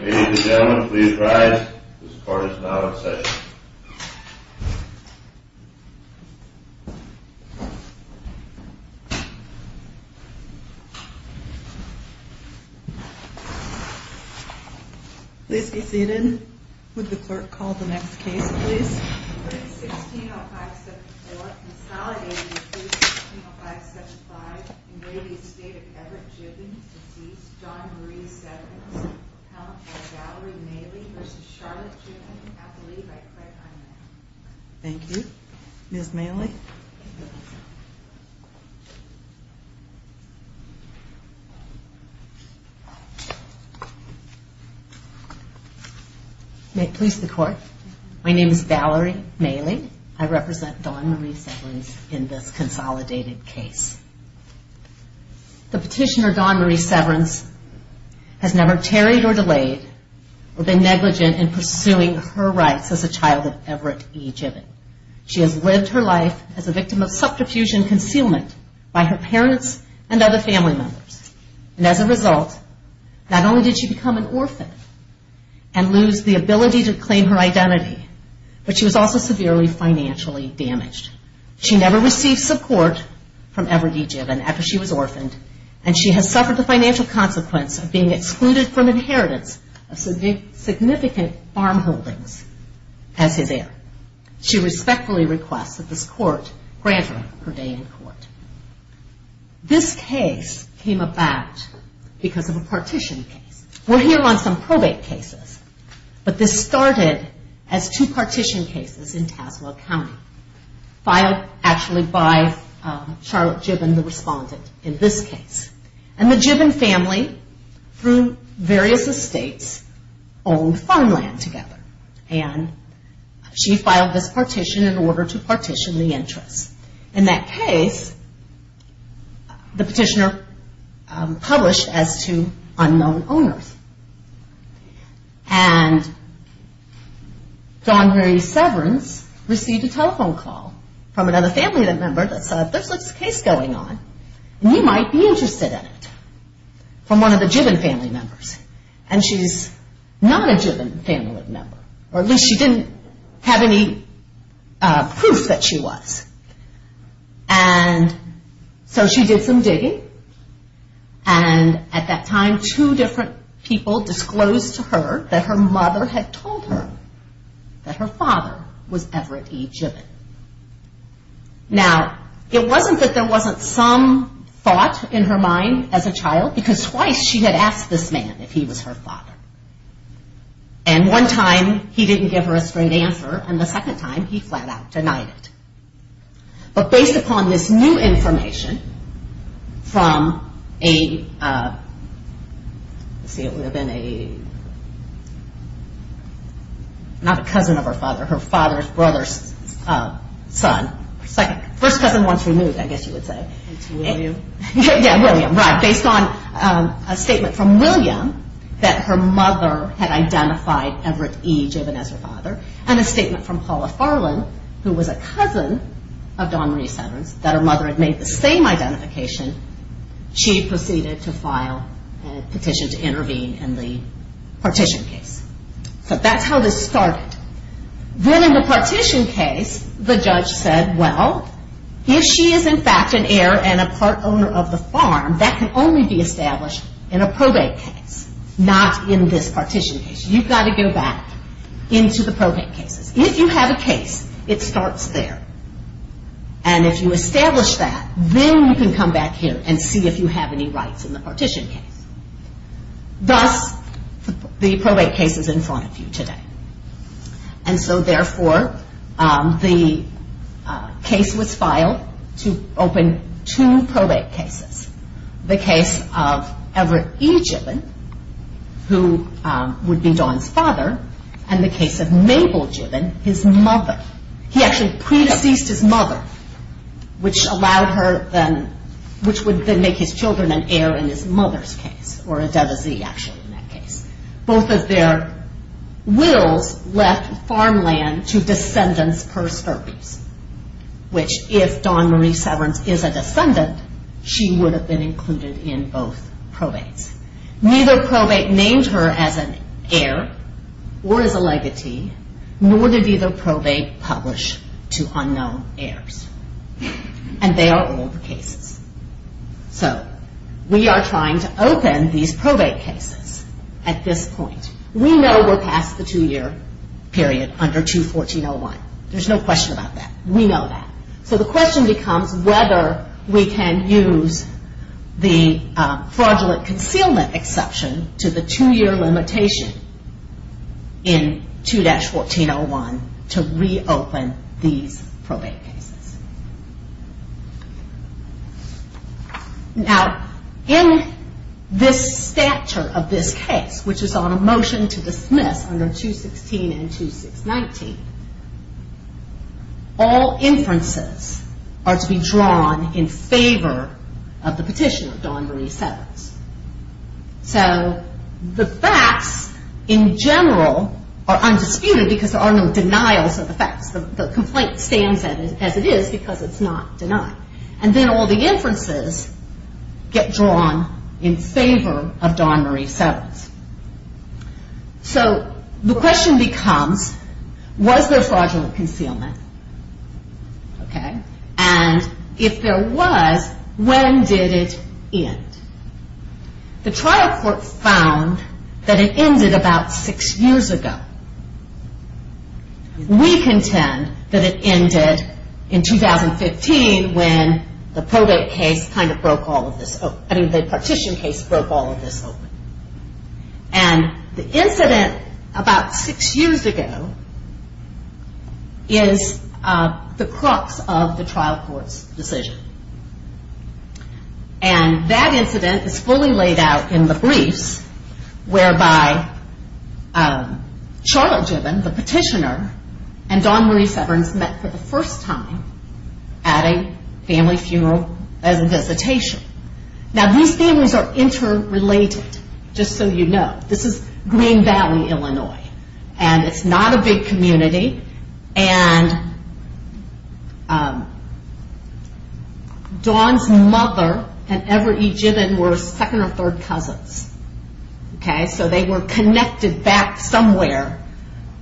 Ladies and gentlemen, please rise. This court is now in session. Please be seated. Would the clerk call the next case, please? 3-16-05-74. Consolidated to 3-16-05-75. In re Estate of Everett Jibben. Deceased, John Marie Severance. Appellant by Valerie Mailey v. Charlotte Jibben. Appellee by Craig Hyman. Thank you. Ms. Mailey? May it please the court. My name is Valerie Mailey. I represent Dawn Marie Severance in this consolidated case. The petitioner, Dawn Marie Severance, has never tarried or delayed or been negligent in pursuing her rights as a child of Everett E. Jibben. She has lived her life as a victim of subterfuge and concealment by her parents and other family members. And as a result, not only did she become an orphan and lose the ability to claim her identity, but she was also severely financially damaged. She never received support from Everett E. Jibben after she was orphaned. And she has suffered the financial consequence of being excluded from inheritance of significant farm holdings as his heir. She respectfully requests that this court grant her her day in court. This case came about because of a partition case. We're here on some probate cases. But this started as two partition cases in Tazewell County, filed actually by Charlotte Jibben, the respondent, in this case. And the Jibben family, through various estates, owned farmland together. And she filed this partition in order to partition the interest. In that case, the petitioner published as to unknown owners. And Dawn Marie Severance received a telephone call from another family member that said, there's this case going on, and you might be interested in it, from one of the Jibben family members. And she's not a Jibben family member, or at least she didn't have any proof that she was. And so she did some digging. And at that time, two different people disclosed to her that her mother had told her that her father was Everett E. Jibben. Now, it wasn't that there wasn't some thought in her mind as a child, because twice she had asked this man if he was her father. And one time he didn't give her a straight answer, and the second time he flat out denied it. But based upon this new information from a, let's see, it would have been a, not a cousin of her father, her father's brother's son. First cousin once removed, I guess you would say. It's William. Yeah, William, right. Based on a statement from William that her mother had identified Everett E. Jibben as her father. And a statement from Paula Farland, who was a cousin of Dawn Marie Severance, that her mother had made the same identification. She proceeded to file a petition to intervene in the partition case. So that's how this started. Then in the partition case, the judge said, well, if she is in fact an heir and a part owner of the farm, that can only be established in a probate case. Not in this partition case. You've got to go back into the probate cases. If you have a case, it starts there. And if you establish that, then you can come back here and see if you have any rights in the partition case. Thus, the probate case is in front of you today. And so therefore, the case was filed to open two probate cases. The case of Everett E. Jibben, who would be Dawn's father. And the case of Mabel Jibben, his mother. He actually pre-deceased his mother, which would then make his children an heir in his mother's case. Or a devisee, actually, in that case. Both of their wills left farmland to descendants persterpes. Which if Dawn Marie Severance is a descendant, she would have been included in both probates. Neither probate named her as an heir or as a legatee, nor did either probate publish to unknown heirs. And they are old cases. So we are trying to open these probate cases at this point. We know we're past the two-year period, under 214.01. There's no question about that. We know that. So the question becomes whether we can use the fraudulent concealment exception to the two-year limitation in 2-1401 to reopen these probate cases. Now, in this stature of this case, which is on a motion to dismiss under 216 and 2619, all inferences are to be drawn in favor of the petitioner, Dawn Marie Severance. So the facts, in general, are undisputed because there are no denials of the facts. The complaint stands as it is because it's not denied. And then all the inferences get drawn in favor of Dawn Marie Severance. So the question becomes, was there fraudulent concealment? And if there was, when did it end? The trial court found that it ended about six years ago. We contend that it ended in 2015 when the probate case kind of broke all of this open. I mean, the petition case broke all of this open. And the incident about six years ago is the crux of the trial court's decision. And that incident is fully laid out in the briefs whereby Charlotte Gibbon, the petitioner, and Dawn Marie Severance met for the first time at a family funeral as a visitation. Now, these families are interrelated, just so you know. This is Green Valley, Illinois, and it's not a big community. And Dawn's mother and Everett E. Gibbon were second or third cousins. So they were connected back somewhere.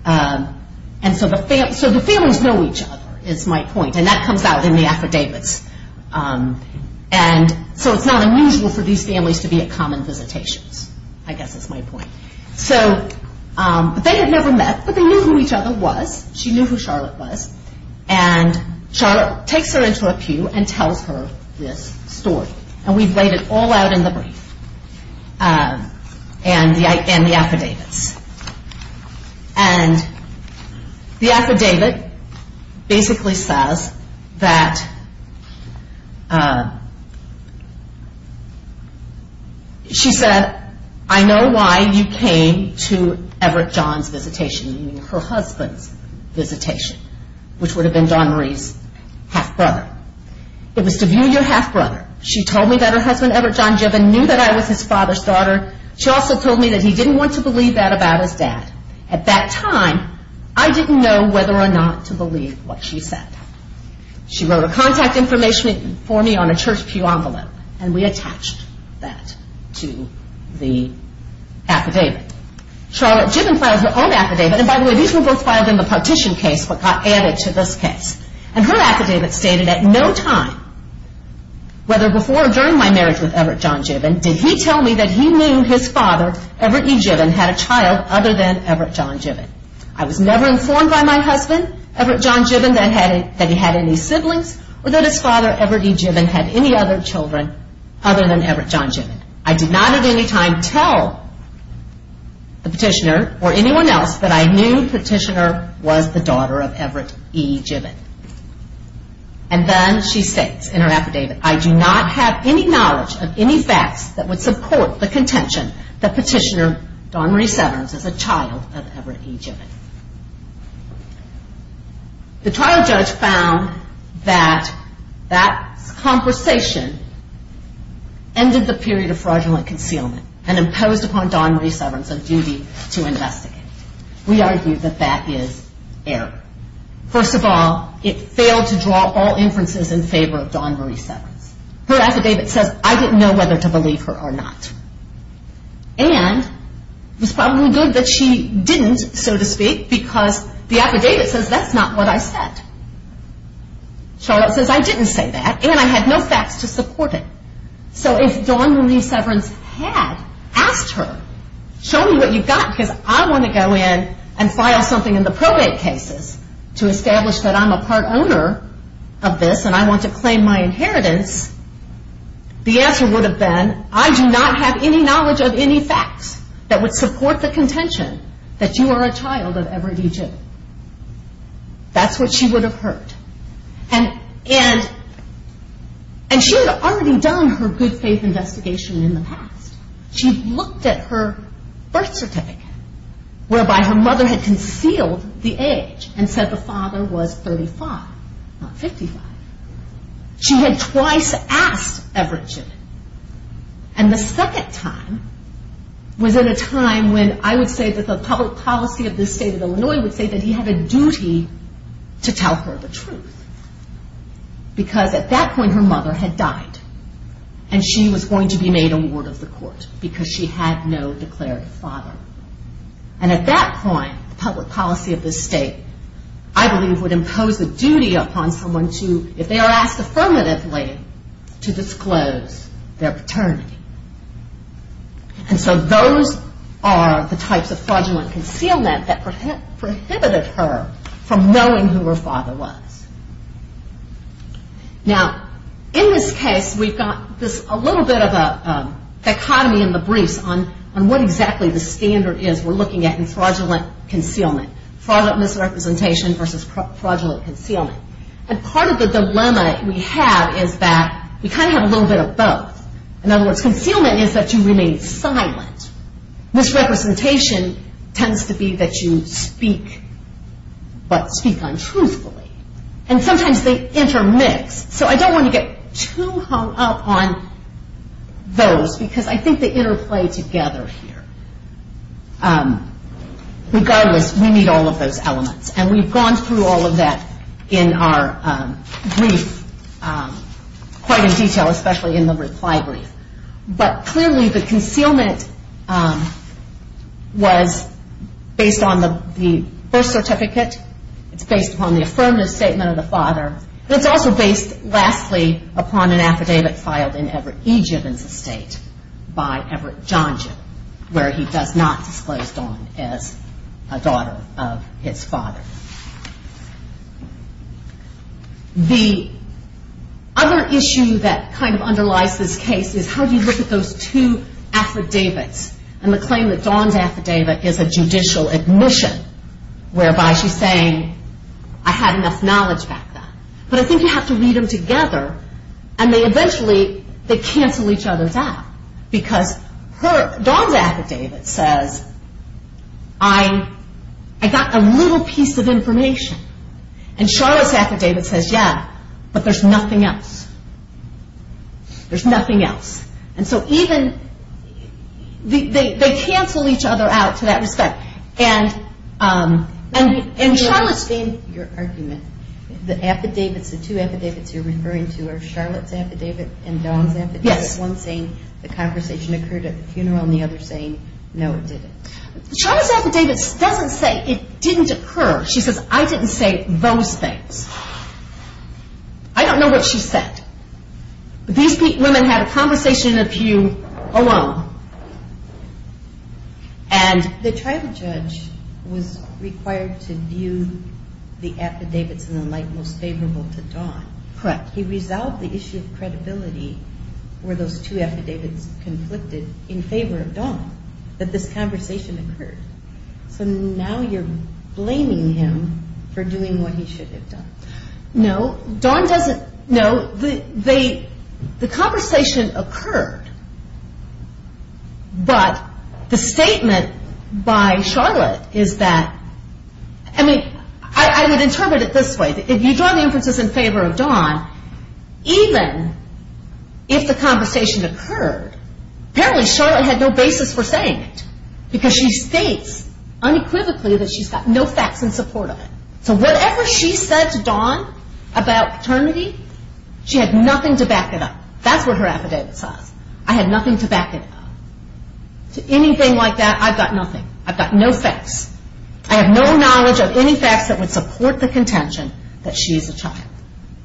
And so the families know each other, is my point, and that comes out in the affidavits. And so it's not unusual for these families to be at common visitations, I guess is my point. So they had never met, but they knew who each other was. She knew who Charlotte was. And Charlotte takes her into a pew and tells her this story. And we've laid it all out in the brief and the affidavits. And the affidavit basically says that she said, I know why you came to Everett John's visitation, meaning her husband's visitation, which would have been Dawn Marie's half-brother. It was to view your half-brother. She told me that her husband, Everett John Gibbon, knew that I was his father's daughter. She also told me that he didn't want to believe that about his dad. At that time, I didn't know whether or not to believe what she said. She wrote a contact information for me on a church pew envelope, and we attached that to the affidavit. Charlotte Gibbon files her own affidavit. And by the way, these were both filed in the partition case, but got added to this case. And her affidavit stated, at no time, whether before or during my marriage with Everett John Gibbon, did he tell me that he knew his father, Everett E. Gibbon, had a child other than Everett John Gibbon. I was never informed by my husband, Everett John Gibbon, that he had any siblings, or that his father, Everett E. Gibbon, had any other children other than Everett John Gibbon. I did not at any time tell the petitioner or anyone else that I knew the petitioner was the daughter of Everett E. Gibbon. And then she states in her affidavit, I do not have any knowledge of any facts that would support the contention that petitioner Dawn Marie Severns is a child of Everett E. Gibbon. The trial judge found that that conversation ended the period of fraudulent concealment and imposed upon Dawn Marie Severns a duty to investigate. We argue that that is error. First of all, it failed to draw all inferences in favor of Dawn Marie Severns. Her affidavit says, I didn't know whether to believe her or not. And it was probably good that she didn't, so to speak, because the affidavit says that's not what I said. Charlotte says, I didn't say that, and I had no facts to support it. So if Dawn Marie Severns had asked her, show me what you've got because I want to go in and file something in the probate cases to establish that I'm a part owner of this and I want to claim my inheritance, the answer would have been, I do not have any knowledge of any facts that would support the contention that you are a child of Everett E. Gibbon. That's what she would have heard. And she had already done her good faith investigation in the past. She looked at her birth certificate, whereby her mother had concealed the age and said the father was 35, not 55. She had twice asked Everett Gibbon. And the second time was at a time when I would say that the public policy of this state of Illinois would say that he had a duty to tell her the truth. Because at that point, her mother had died. And she was going to be made a ward of the court because she had no declared father. And at that point, the public policy of this state, I believe, would impose a duty upon someone to, if they are asked affirmatively, to disclose their paternity. And so those are the types of fraudulent concealment that prohibited her from knowing who her father was. Now, in this case, we've got a little bit of a dichotomy in the briefs on what exactly the standard is we're looking at in fraudulent concealment. Fraudulent misrepresentation versus fraudulent concealment. And part of the dilemma we have is that we kind of have a little bit of both. In other words, concealment is that you remain silent. Misrepresentation tends to be that you speak, but speak untruthfully. And sometimes they intermix. So I don't want to get too hung up on those because I think they interplay together here. Regardless, we need all of those elements. And we've gone through all of that in our brief quite in detail, especially in the reply brief. But clearly the concealment was based on the birth certificate. It's based upon the affirmative statement of the father. It's also based, lastly, upon an affidavit filed in Everett E. Gibbons' estate by Everett John Gibbons, where he does not disclose Dawn as a daughter of his father. The other issue that kind of underlies this case is how do you look at those two affidavits and the claim that Dawn's affidavit is a judicial admission whereby she's saying, I had enough knowledge back then. But I think you have to read them together. And eventually they cancel each other out because Dawn's affidavit says, I got a little piece of information. And Charlotte's affidavit says, yeah, but there's nothing else. There's nothing else. And so even they cancel each other out to that respect. And Charlotte's saying your argument, the affidavits, the two affidavits you're referring to are Charlotte's affidavit and Dawn's affidavit, one saying the conversation occurred at the funeral and the other saying, no, it didn't. Charlotte's affidavit doesn't say it didn't occur. She says, I didn't say those things. I don't know what she said. These women had a conversation with you alone. And the tribal judge was required to view the affidavits in the light most favorable to Dawn. Correct. He resolved the issue of credibility where those two affidavits conflicted in favor of Dawn, that this conversation occurred. So now you're blaming him for doing what he should have done. No. Dawn doesn't know. The conversation occurred. But the statement by Charlotte is that, I mean, I would interpret it this way. If you draw the inferences in favor of Dawn, even if the conversation occurred, apparently Charlotte had no basis for saying it because she states unequivocally that she's got no facts in support of it. So whatever she said to Dawn about paternity, she had nothing to back it up. That's what her affidavit says. I have nothing to back it up. To anything like that, I've got nothing. I've got no facts. I have no knowledge of any facts that would support the contention that she is a child.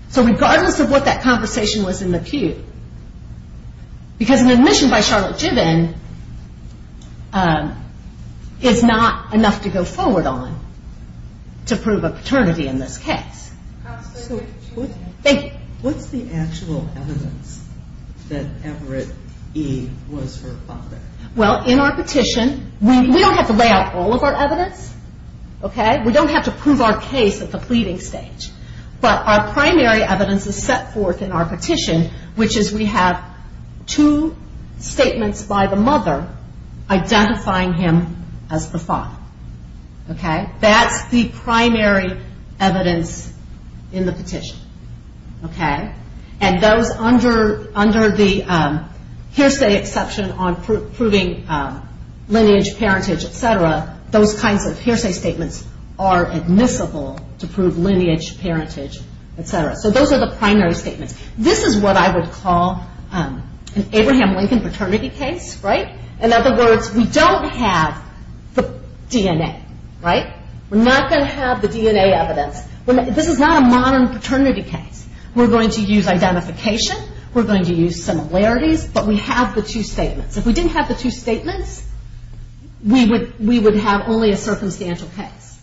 So regardless of what that conversation was in the pew, because an admission by Charlotte Gibbon is not enough to go forward on to prove a paternity in this case. Thank you. What's the actual evidence that Everett E. was her father? Well, in our petition, we don't have to lay out all of our evidence. We don't have to prove our case at the pleading stage. But our primary evidence is set forth in our petition, which is we have two statements by the mother identifying him as the father. Okay? That's the primary evidence in the petition, okay? And those under the hearsay exception on proving lineage, parentage, et cetera, those kinds of hearsay statements are admissible to prove lineage, parentage, et cetera. So those are the primary statements. This is what I would call an Abraham Lincoln paternity case, right? In other words, we don't have the DNA, right? We're not going to have the DNA evidence. This is not a modern paternity case. We're going to use identification. We're going to use similarities, but we have the two statements. If we didn't have the two statements, we would have only a circumstantial case.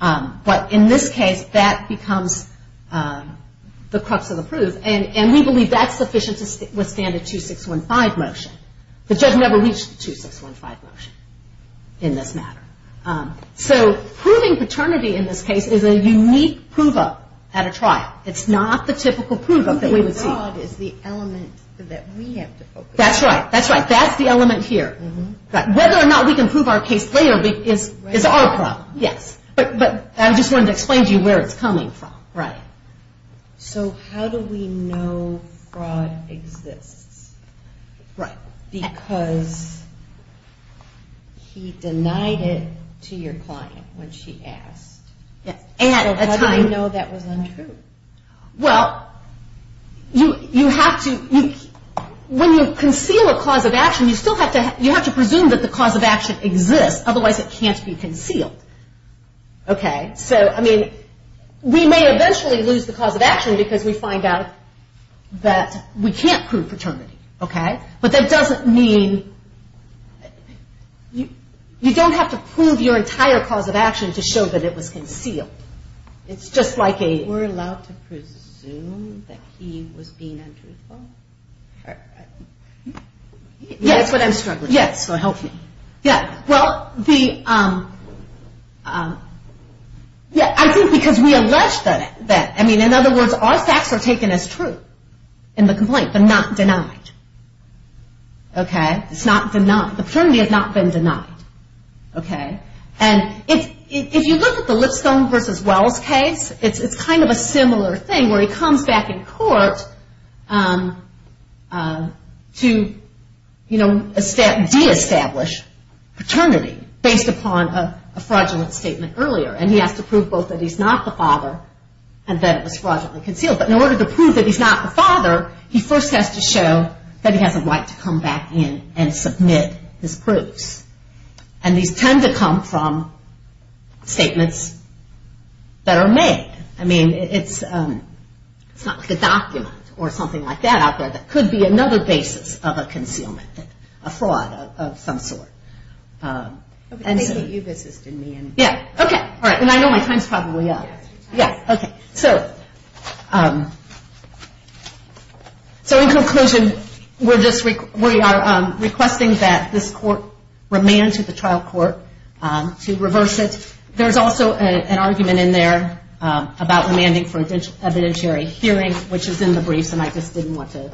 But in this case, that becomes the crux of the proof. And we believe that's sufficient to withstand a 2615 motion. The judge never reached the 2615 motion in this matter. So proving paternity in this case is a unique prove-up at a trial. It's not the typical prove-up that we would see. Fraud is the element that we have to focus on. That's right. That's the element here. Whether or not we can prove our case later is our problem. But I just wanted to explain to you where it's coming from. So how do we know fraud exists? Because he denied it to your client when she asked. So how do we know that was untrue? Well, when you conceal a cause of action, you have to presume that the cause of action exists. Otherwise, it can't be concealed. So we may eventually lose the cause of action because we find out that we can't prove paternity. But that doesn't mean you don't have to prove your entire cause of action to show that it was concealed. We're allowed to presume that he was being untruthful? That's what I'm struggling with, so help me. I think because we allege that. In other words, our facts are taken as true in the complaint, but not denied. The paternity has not been denied. And if you look at the Lipstone v. Wells case, it's kind of a similar thing where he comes back in court to de-establish paternity based upon a fraudulent statement earlier. And he has to prove both that he's not the father and that it was fraudulently concealed. Or he first has to show that he has a right to come back in and submit his proofs. And these tend to come from statements that are made. I mean, it's not like a document or something like that out there that could be another basis of a concealment, a fraud of some sort. And I know my time's probably up. So in conclusion, we are requesting that this court remand to the trial court to reverse it. There's also an argument in there about remanding for evidentiary hearing, which is in the briefs, and I just didn't want to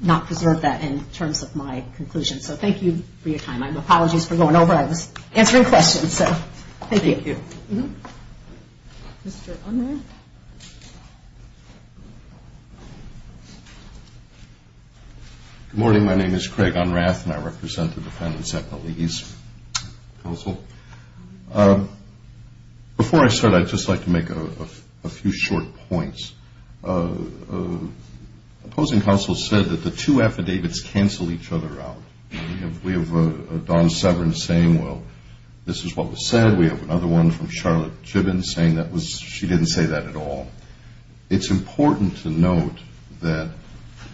not preserve that in terms of my conclusion. So thank you for your time. And apologies for going over. I was answering questions. Thank you. Good morning. My name is Craig Unrath, and I represent the defendants at the Lease Council. Before I start, I'd just like to make a few short points. Opposing counsel said that the two affidavits cancel each other out. We have Dawn Severn saying, well, this is what was said. We have another one from Charlotte Gibbons saying she didn't say that at all. It's important to note that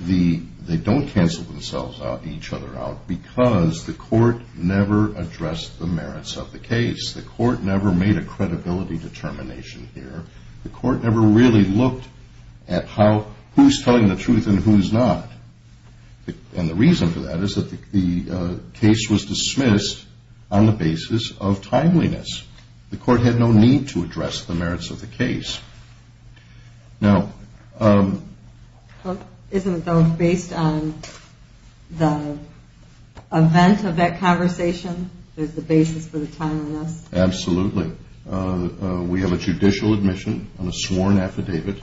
they don't cancel each other out because the court never addressed the merits of the case. The court never made a credibility determination here. The court never really looked at who's telling the truth and who's not. And the reason for that is that the case was dismissed on the basis of timeliness. The court had no need to address the merits of the case. Now... Isn't it, though, based on the event of that conversation, there's a basis for the timeliness? Absolutely. We have a judicial admission on a sworn affidavit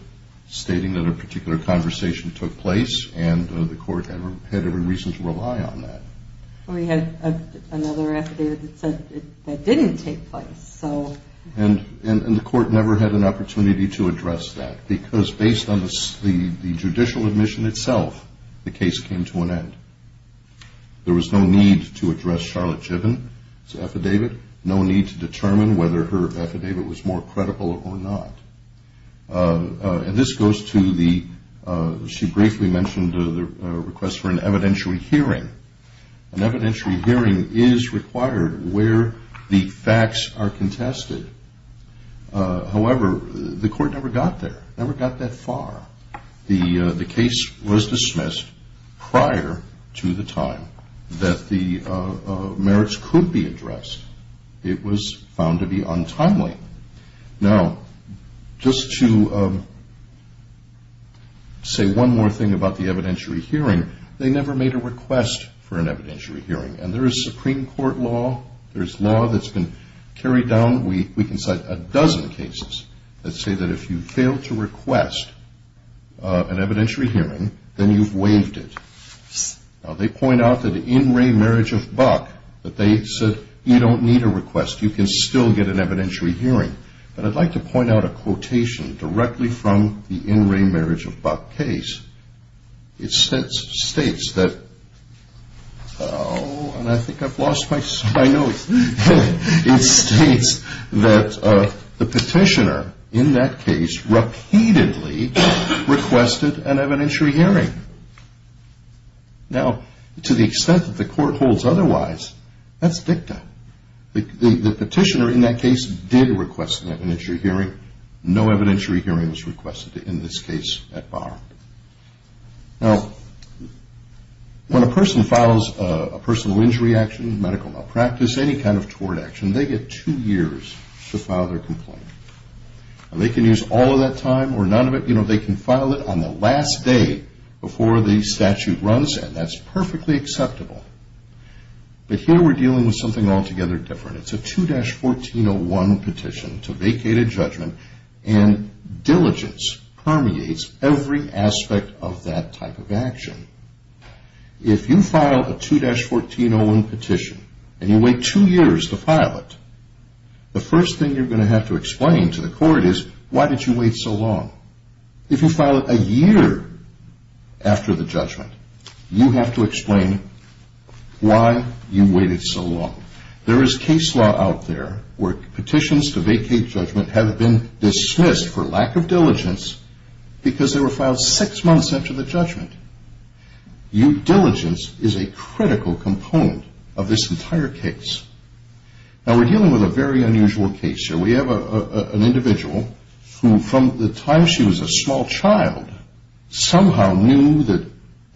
stating that a particular conversation took place and the court had every reason to rely on that. We had another affidavit that said that didn't take place. And the court never had an opportunity to address that because based on the judicial admission itself, the case came to an end. There was no need to address Charlotte Gibbons' affidavit. No need to determine whether her affidavit was more credible or not. And this goes to the... She briefly mentioned the request for an evidentiary hearing. An evidentiary hearing is required where the facts are contested. However, the court never got there. Never got that far. The case was dismissed prior to the time that the merits could be addressed. It was found to be untimely. Now, just to say one more thing about the evidentiary hearing, they never made a request for an evidentiary hearing. And there is Supreme Court law. There's law that's been carried down. We can cite a dozen cases that say that if you fail to request an evidentiary hearing, then you've waived it. Now, they point out that in Ray Marriage of Buck, that they said you don't need a request. You can still get an evidentiary hearing. But I'd like to point out a quotation directly from the in Ray Marriage of Buck case. It states that... Oh, and I think I've lost my notes. It states that the petitioner in that case repeatedly requested an evidentiary hearing. Now, to the extent that the court holds otherwise, that's dicta. The petitioner in that case did request an evidentiary hearing. No evidentiary hearing was requested in this case at bar. Now, when a person files a personal injury action, medical malpractice, any kind of tort action, they get two years to file their complaint. They can use all of that time or none of it. They can file it on the last day before the statute runs, and that's perfectly acceptable. But here we're dealing with something altogether different. It's a 2-1401 petition to vacate a judgment, and diligence permeates every aspect of that type of action. If you file a 2-1401 petition, and you wait two years to file it, the first thing you're going to have to explain to the court is, why did you wait so long? If you file it a year after the judgment, you have to explain why you waited so long. There is case law out there where petitions to vacate judgment have been dismissed for lack of diligence because they were filed six months after the judgment. Diligence is a critical component of this entire case. Now, we're dealing with a very unusual case here. We have an individual who, from the time she was a small child, somehow knew that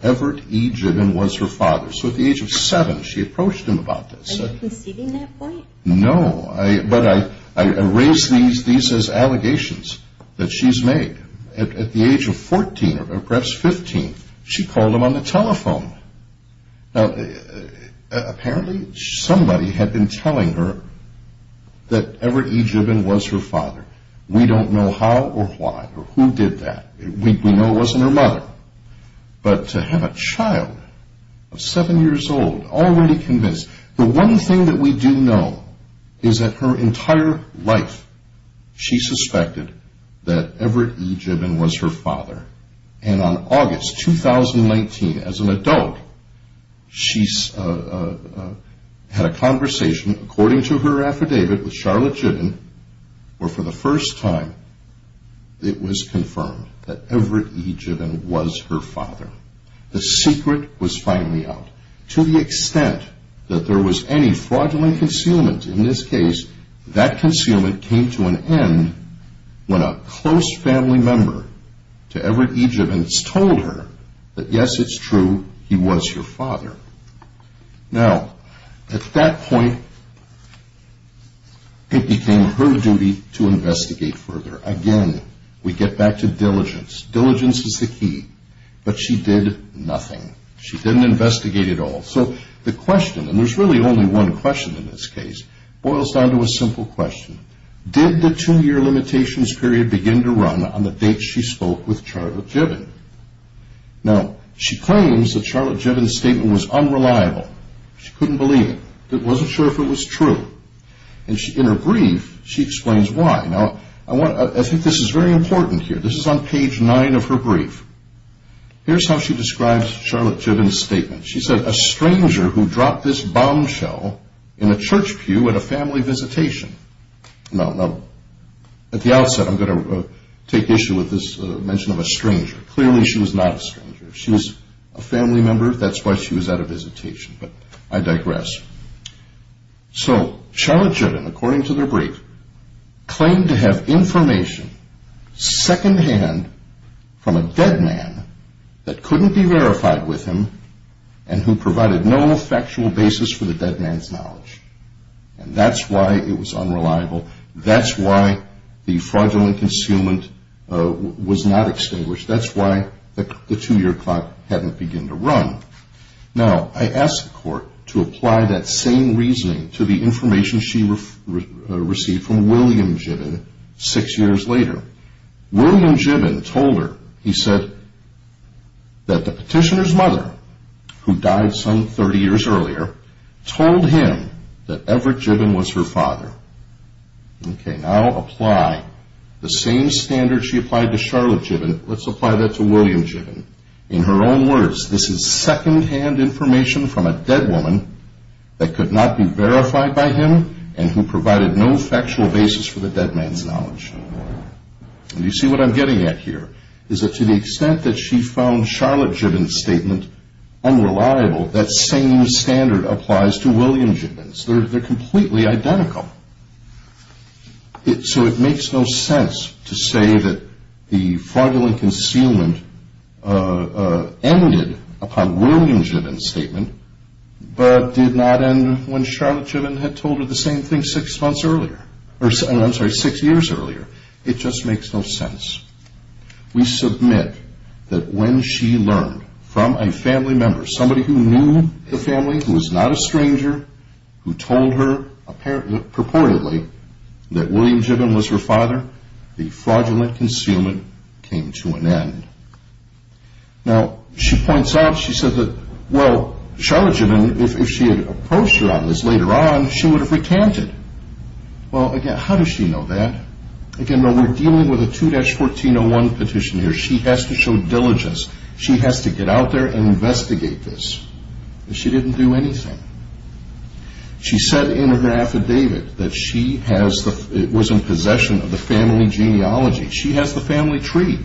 Everett E. Gibbon was her father. So at the age of seven, she approached him about this. Were you conceding that point? No, but I raise these as allegations that she's made. At the age of 14, or perhaps 15, she called him on the telephone. Apparently, somebody had been telling her that Everett E. Gibbon was her father. We don't know how or why, or who did that. We know it wasn't her mother. But to have a child of seven years old, and already convinced, the one thing that we do know is that her entire life, she suspected that Everett E. Gibbon was her father. And on August 2019, as an adult, she had a conversation, according to her affidavit, with Charlotte Gibbon where, for the first time, it was confirmed that Everett E. Gibbon was her father. The secret was finally out. To the extent that there was any fraudulent concealment, in this case, that concealment came to an end when a close family member to Everett E. Gibbon told her that, yes, it's true, he was her father. Now, at that point, Again, we get back to diligence. Diligence is the key. But she did nothing. She didn't investigate at all. So the question, and there's really only one question in this case, boils down to a simple question. Did the two-year limitations period begin to run on the date she spoke with Charlotte Gibbon? Now, she claims that Charlotte Gibbon's statement was unreliable. She couldn't believe it. She wasn't sure if it was true. In her brief, she explains why. Now, I think this is very important here. This is on page 9 of her brief. Here's how she describes Charlotte Gibbon's statement. She said, Now, at the outset, I'm going to take issue with this mention of a stranger. Clearly, she was not a stranger. She was a family member. That's why she was at a visitation. But I digress. So Charlotte Gibbon, according to their brief, claimed to have information secondhand from a dead man that couldn't be verified with him and who provided no factual basis for the dead man's knowledge. And that's why it was unreliable. That's why the fraudulent concealment was not extinguished. That's why the two-year clock hadn't begun to run. Now, I asked the court to apply that same reasoning to the information she received from William Gibbon six years later. William Gibbon told her, he said, that the petitioner's mother, who died some 30 years earlier, told him that Everett Gibbon was her father. Okay, now apply the same standard she applied to Charlotte Gibbon. Let's apply that to William Gibbon. In her own words, this is secondhand information from a dead woman that could not be verified by him and who provided no factual basis for the dead man's knowledge. You see what I'm getting at here? To the extent that she found Charlotte Gibbon's statement unreliable, that same standard applies to William Gibbon's. They're completely identical. So it makes no sense to say that the fraudulent concealment ended upon William Gibbon's statement but did not end when Charlotte Gibbon had told her the same thing six years earlier. It just makes no sense. We submit that when she learned from a family member, somebody who knew the family, who was not a stranger, who told her purportedly that William Gibbon was her father, the fraudulent concealment came to an end. Now, she points out, she says that, well, Charlotte Gibbon, if she had approached her on this later on, she would have recanted. Well, again, how does she know that? Again, we're dealing with a 2-1401 petition here. She has to show diligence. She has to get out there and investigate this. She didn't do anything. She said in her affidavit that she was in possession of the family genealogy. She has the family tree.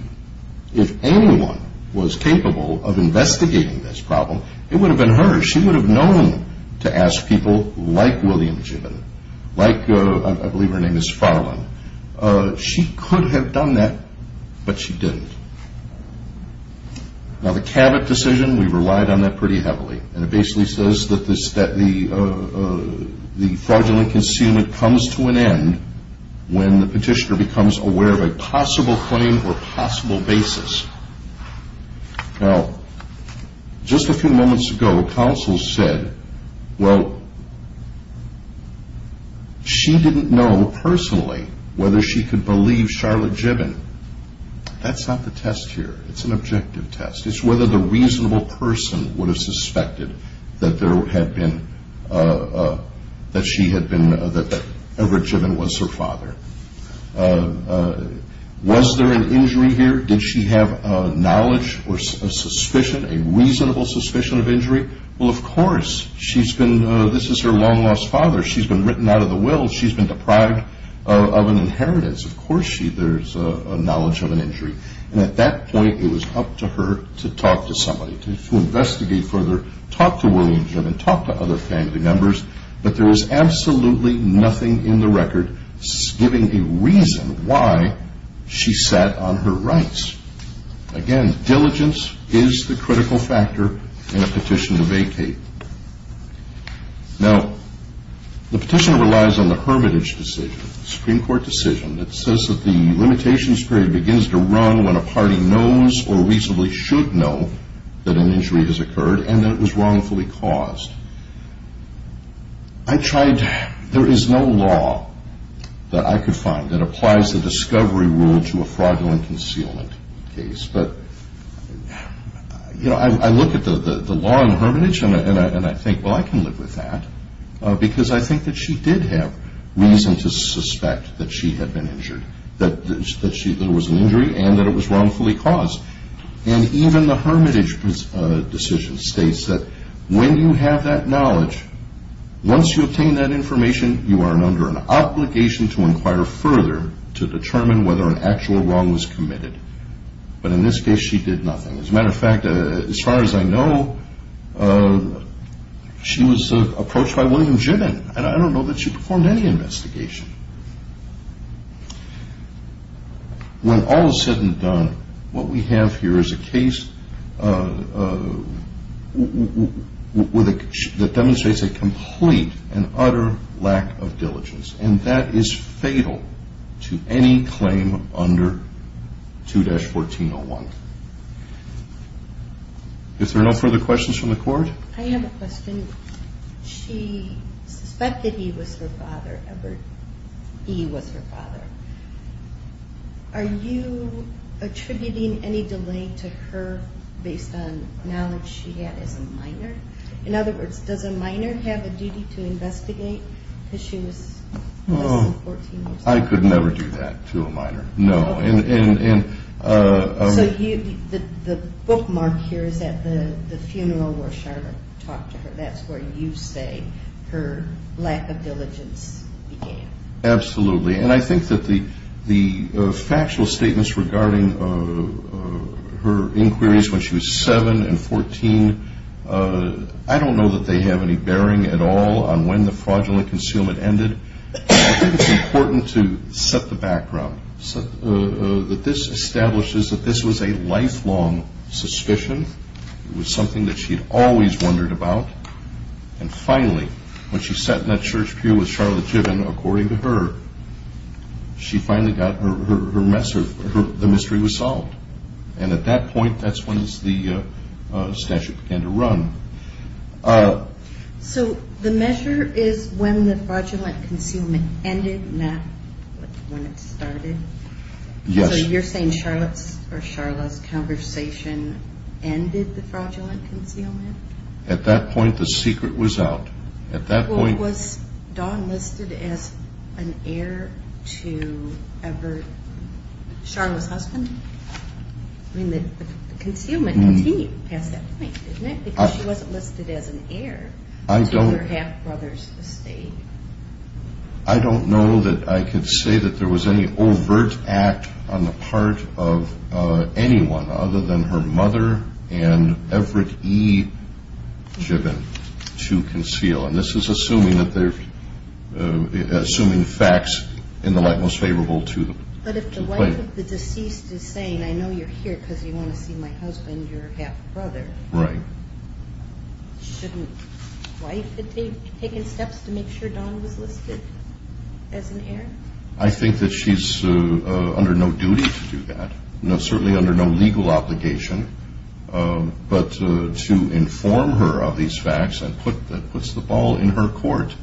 If anyone was capable of investigating this problem, it would have been her. She would have known to ask people like William Gibbon, like, I believe her name is Farlyn. She could have done that, but she didn't. Now, the Cabot decision, we relied on that pretty heavily, and it basically says that the fraudulent concealment comes to an end when the petitioner becomes aware of a possible claim or possible basis. Now, just a few moments ago, counsel said, well, she didn't know personally whether she could believe Charlotte Gibbon. That's not the test here. It's an objective test. It's whether the reasonable person would have suspected that she had been, that Everett Gibbon was her father. Was there an injury here? Did she have knowledge or suspicion, a reasonable suspicion of injury? Well, of course, this is her long-lost father. She's been written out of the will. She's been deprived of an inheritance. Of course there's a knowledge of an injury. And at that point, it was up to her to talk to somebody, to investigate further, talk to William Gibbon, talk to other family members, but there was absolutely nothing in the record giving a reason why she sat on her rights. Again, diligence is the critical factor in a petition to vacate. Now, the petition relies on the Hermitage decision, the Supreme Court decision, that says that the limitations period begins to run when a party knows or reasonably should know that an injury has occurred and that it was wrongfully caused. I tried... There is no law that I could find that applies the discovery rule to a fraudulent concealment case, but, you know, I look at the law in Hermitage and I think, well, I can live with that because I think that she did have reason to suspect that she had been injured, that there was an injury and that it was wrongfully caused. And even the Hermitage decision states that when you have that knowledge, once you obtain that information, you are under an obligation to inquire further to determine whether an actual wrong was committed. But in this case, she did nothing. As a matter of fact, as far as I know, she was approached by William Gibbon and I don't know that she performed any investigation. When all is said and done, what we have here is a case that demonstrates a complete and utter lack of diligence and that is fatal to any claim under 2-1401. If there are no further questions from the court... I have a question. She suspected he was her father, Everett E. was her father. Are you attributing any delay to her based on knowledge she had as a minor? In other words, does a minor have a duty to investigate because she was less than 14 years old? I could never do that to a minor. So the bookmark here is at the funeral where Charlotte talked to her. That's where you say her lack of diligence began. Absolutely. And I think that the factual statements regarding her inquiries when she was 7 and 14, I don't know that they have any bearing at all on when the fraudulent concealment ended. I think it's important to set the background. This establishes that this was a lifelong suspicion. It was something that she had always wondered about. And finally, when she sat in that church pew with Charlotte Gibbon, according to her, the mystery was solved. And at that point, that's when the statute began to run. So the measure is when the fraudulent concealment ended, not when it started? Yes. So you're saying Charlotte's conversation ended the fraudulent concealment? At that point, the secret was out. Was Dawn listed as an heir to Everett, The concealment continued past that point, didn't it? Because she wasn't listed as an heir to her half-brother's estate. I don't know that I can say that there was any overt act on the part of anyone other than her mother and Everett E. Gibbon to conceal. And this is assuming facts in the light most favorable to the complaint. But if the wife of the deceased is saying, I know you're here because you want to see my husband, your half-brother, shouldn't the wife have taken steps to make sure Dawn was listed as an heir? I think that she's under no duty to do that. Certainly under no legal obligation. But to inform her of these facts, that puts the ball in her court.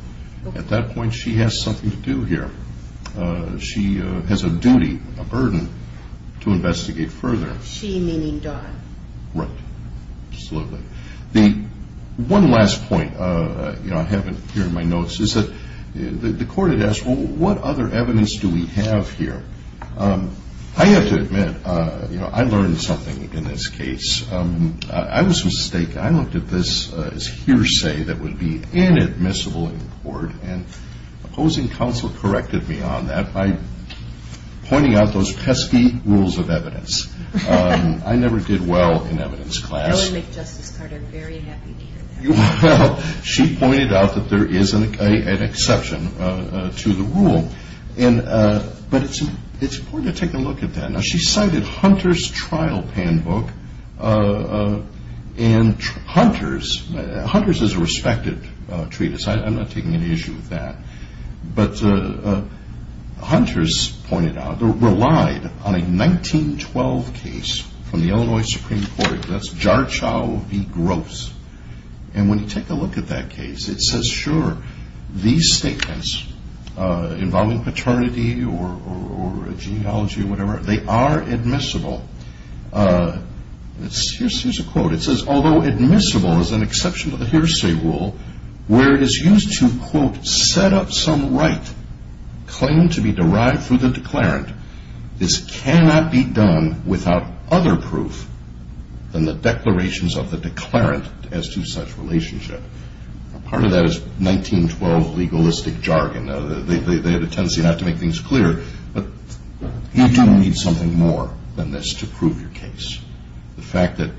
At that point, she has something to do here. She has a duty, a burden to investigate further. She meaning Dawn. Right. Absolutely. One last point I have here in my notes is that the court had asked, what other evidence do we have here? I have to admit, I learned something in this case. I was mistaken. I looked at this as hearsay that would be inadmissible in the court and opposing counsel corrected me on that by pointing out those pesky rules of evidence. I never did well in evidence class. I would make Justice Carter very happy to hear that. She pointed out that there is an exception to the rule. But it's important to take a look at that. She cited Hunter's trial handbook and Hunter's is a respected treatise. I'm not taking any issue with that. Hunter's relied on a 1912 case from the Illinois Supreme Court. That's Jarchow v. Gross. When you take a look at that case, it says, sure, these statements involving paternity or genealogy are admissible. Here's a quote. It says, although admissible is an exception to the hearsay rule, where it is used to, quote, set up some right claimed to be derived through the declarant, this cannot be done without other proof than the declarations of the declarant as to such relationship. Part of that is 1912 legalistic jargon. They had a tendency not to make things clear, but you do need something more than this to prove your case. The fact that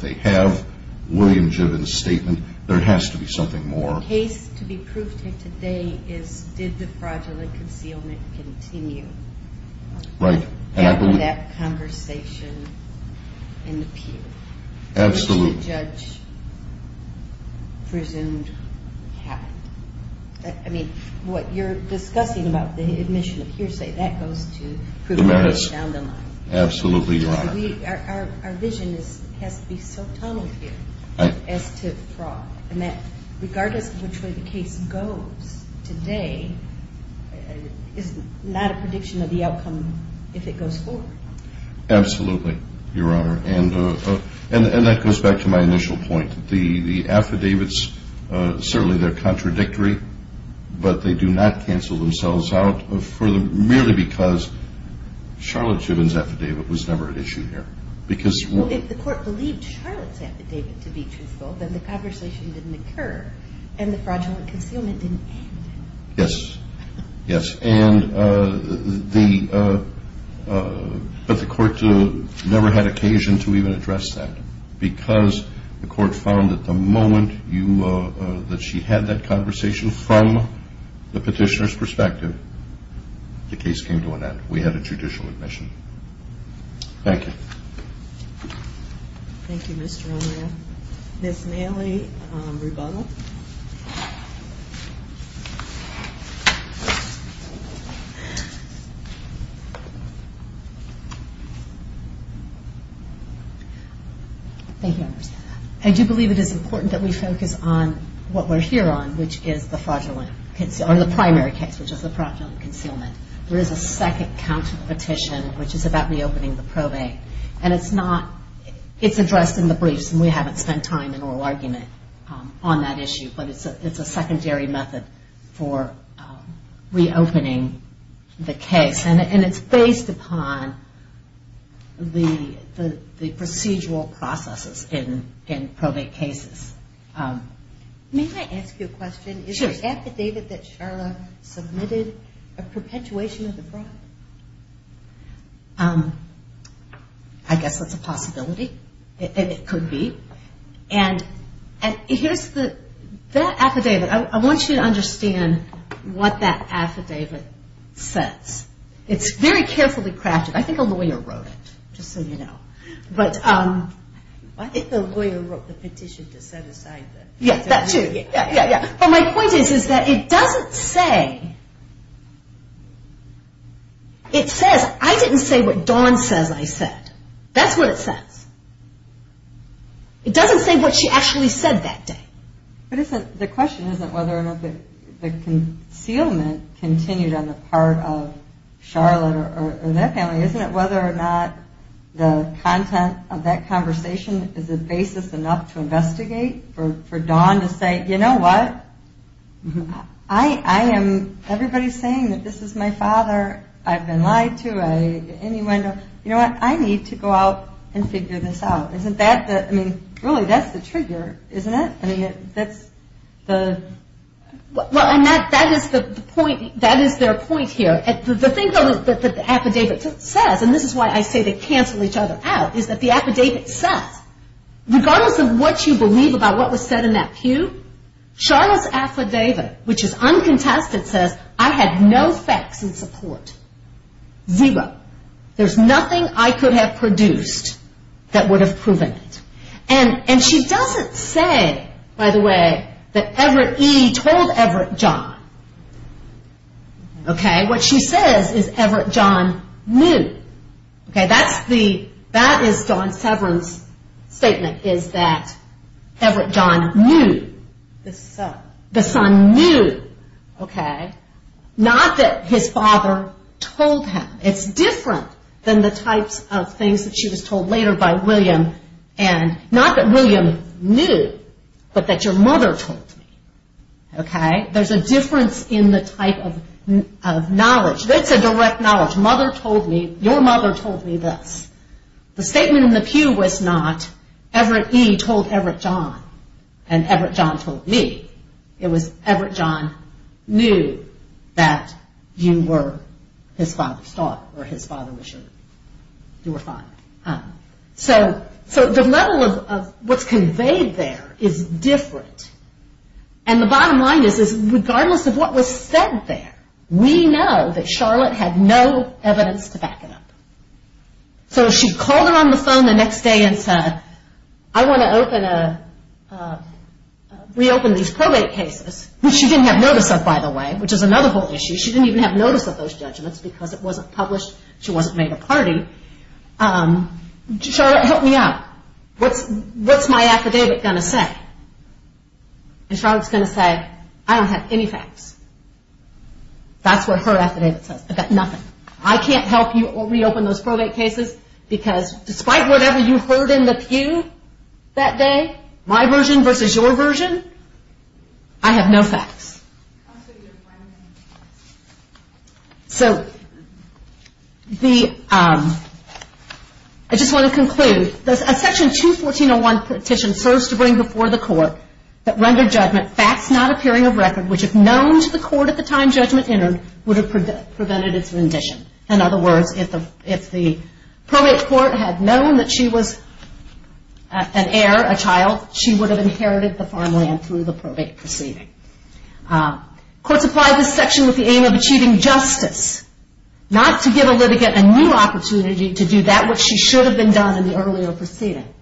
they have William Given's statement, there has to be something more. The case to be proved here today is, did the fraudulent concealment continue? Right. After that conversation in the peer. Absolutely. Which the judge presumed happened. I mean, what you're discussing about the admission of hearsay, that goes to prove the case down the line. Absolutely, Your Honor. Our vision has to be so tunneled here as to fraud. And that, regardless of which way the case goes today, is not a prediction of the outcome if it goes forward. Absolutely, Your Honor. And that goes back to my initial point. The affidavits, certainly they're contradictory, but they do not cancel themselves out merely because Charlotte Given's affidavit was never at issue here. If the court believed Charlotte's affidavit to be truthful, then the conversation didn't occur and the fraudulent concealment didn't end. Yes. But the court never had occasion to even address that because the court found that the moment that she had that conversation from the petitioner's perspective, the case came to an end. We had a judicial admission. Thank you. Thank you, Mr. O'Meara. Ms. Nally Rubano. Thank you, Your Honor. I do believe it is important that we focus on what we're here on, which is the primary case, which is the fraudulent concealment. There is a second counterpetition, which is about reopening the probate. It's addressed in the briefs, and we haven't spent time in oral argument on that issue, but it's a secondary method for reopening the case. And it's based upon the procedural processes in probate cases. May I ask you a question? Sure. Is the affidavit that Charlotte submitted a perpetuation of the fraud? I guess that's a possibility. It could be. And here's that affidavit. I want you to understand what that affidavit says. It's very carefully crafted. I think a lawyer wrote it, just so you know. I think the lawyer wrote the petition to set aside that. Yeah, that too. But my point is that it doesn't say... I didn't say what Dawn says I said. That's what it says. It doesn't say what she actually said that day. The question isn't whether or not the concealment continued on the part of Charlotte or that family. Isn't it whether or not the content of that conversation is a basis enough to investigate for Dawn to say, you know what? Everybody's saying that this is my father. I've been lied to. You know what? I need to go out and figure this out. Really, that's the trigger, isn't it? That is their point here. The thing that the affidavit says, and this is why I say they cancel each other out, is that the affidavit says, regardless of what you believe about what was said in that pew, Charlotte's affidavit, which is uncontested, says I had no facts in support. Zero. There's nothing I could have produced that would have proven it. And she doesn't say, by the way, that Everett E. told Everett John. Okay? What she says is Everett John knew. That is Dawn Severn's statement, is that Everett John knew. The son knew. Not that his father told him. It's different than the types of things that she was told later by William. Not that William knew, but that your mother told me. Okay? There's a difference in the type of knowledge. That's a direct knowledge. Your mother told me this. The statement in the pew was not Everett E. told Everett John, and Everett John told me. It was Everett John knew that you were his father's daughter, or his father was your father. So the level of what's conveyed there is different. And the bottom line is, regardless of what was said there, we know that Charlotte had no evidence to back it up. So she called her on the phone the next day and said, I want to reopen these probate cases, which she didn't have notice of, by the way, which is another whole issue. She didn't even have notice of those judgments, because it wasn't published, she wasn't made a party. Charlotte, help me out. What's my affidavit going to say? And Charlotte's going to say, I don't have any facts. That's what her affidavit says. I've got nothing. I can't help you reopen those probate cases, because despite whatever you heard in the pew that day, my version versus your version, I have no facts. So, the, I just want to conclude, a section 214.01 petition serves to bring before the court that rendered judgment facts not appearing of record, which if known to the court at the time judgment entered, would have prevented its rendition. In other words, if the probate court had known that she was an heir, a child, she would have inherited the farmland through the probate proceeding. Courts apply this section with the aim of achieving justice, not to give a litigant a new opportunity to do that which she should have been done in the earlier proceeding.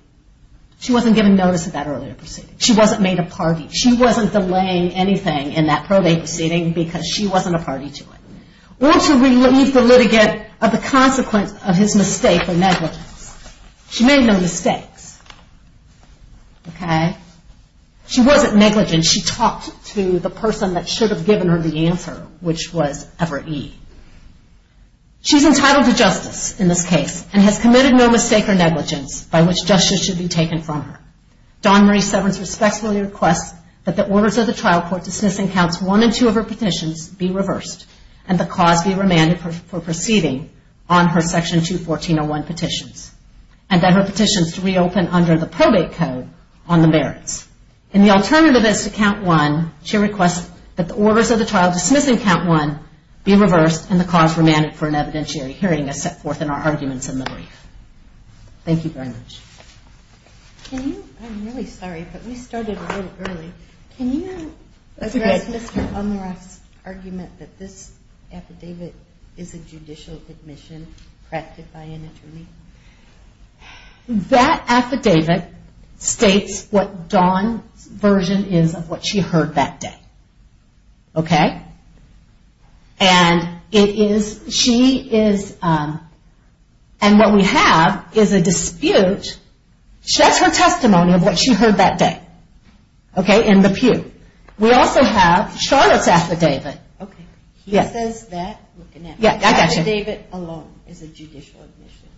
She wasn't given notice of that earlier proceeding. She wasn't made a party. She wasn't delaying anything in that probate proceeding, because she wasn't a party to it. Or to relieve the litigant of the consequence of his mistake or negligence. She made no mistakes. She wasn't negligent. She talked to the person that should have given her the answer, which was Ever E. She's entitled to justice in this case, and has committed no mistake or negligence by which justice should be taken from her. Don Murray Severance respectfully requests that the orders of the trial court dismissing counts 1 and 2 of her petitions be reversed, and the cause be remanded for proceeding on her section 214.01 petitions. And that her petitions reopen under the probate code on the merits. And the alternative is to count 1, she requests that the orders of the trial dismissing count 1 be reversed, and the cause remanded for an evidentiary hearing is set forth in our arguments in the brief. Thank you very much. I'm really sorry, but we started a little early. Can you address Mr. Umeroff's argument that this affidavit is a judicial admission crafted by an attorney? That affidavit states what Dawn's version is of what she heard that day. Okay? And what we have is a dispute. That's her testimony of what she heard that day. Okay? In the pew. We also have Charlotte's affidavit. He says that? Affidavit alone is a judicial admission.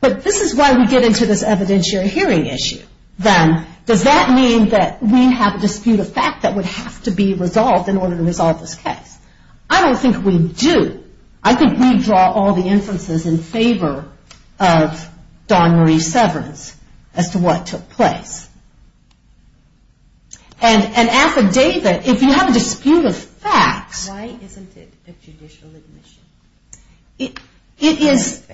But this is why we get into this evidentiary hearing issue. Does that mean that we have a dispute of fact that would have to be resolved in order to resolve this case? I don't think we do. I could redraw all the inferences in favor of Dawn Marie Severance as to what took place. An affidavit, if you have a dispute of fact... Why isn't it a judicial admission? It is...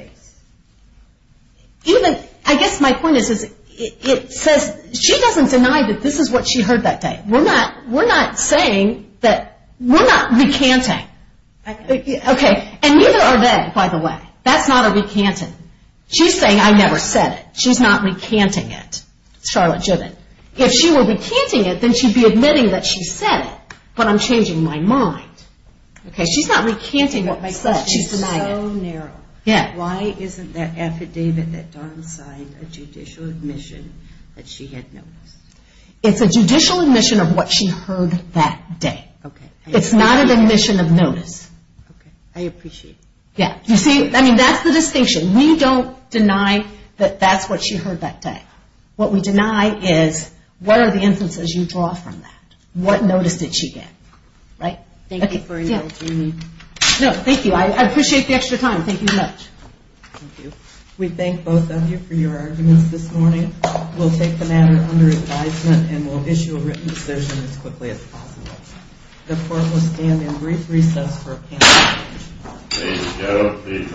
I guess my point is it says... she doesn't deny that this is what she heard that day. We're not saying that... We're not recanting. And neither are they, by the way. That's not a recanting. She's saying, I never said it. She's not recanting it. If she were recanting it, then she'd be admitting that she said it. But I'm changing my mind. My question is so narrow. Why isn't that affidavit that Dawn signed a judicial admission that she had noticed? It's a judicial admission of what she heard that day. It's not an admission of notice. I appreciate it. That's the distinction. We don't deny that that's what she heard that day. What we deny is what are the inferences you draw from that? What notice did she get? Thank you for indulging me. I appreciate the extra time. We thank both of you for your arguments this morning. We'll take the matter under advisement and we'll issue a written decision as quickly as possible. The court will stand in brief recess for a panel discussion.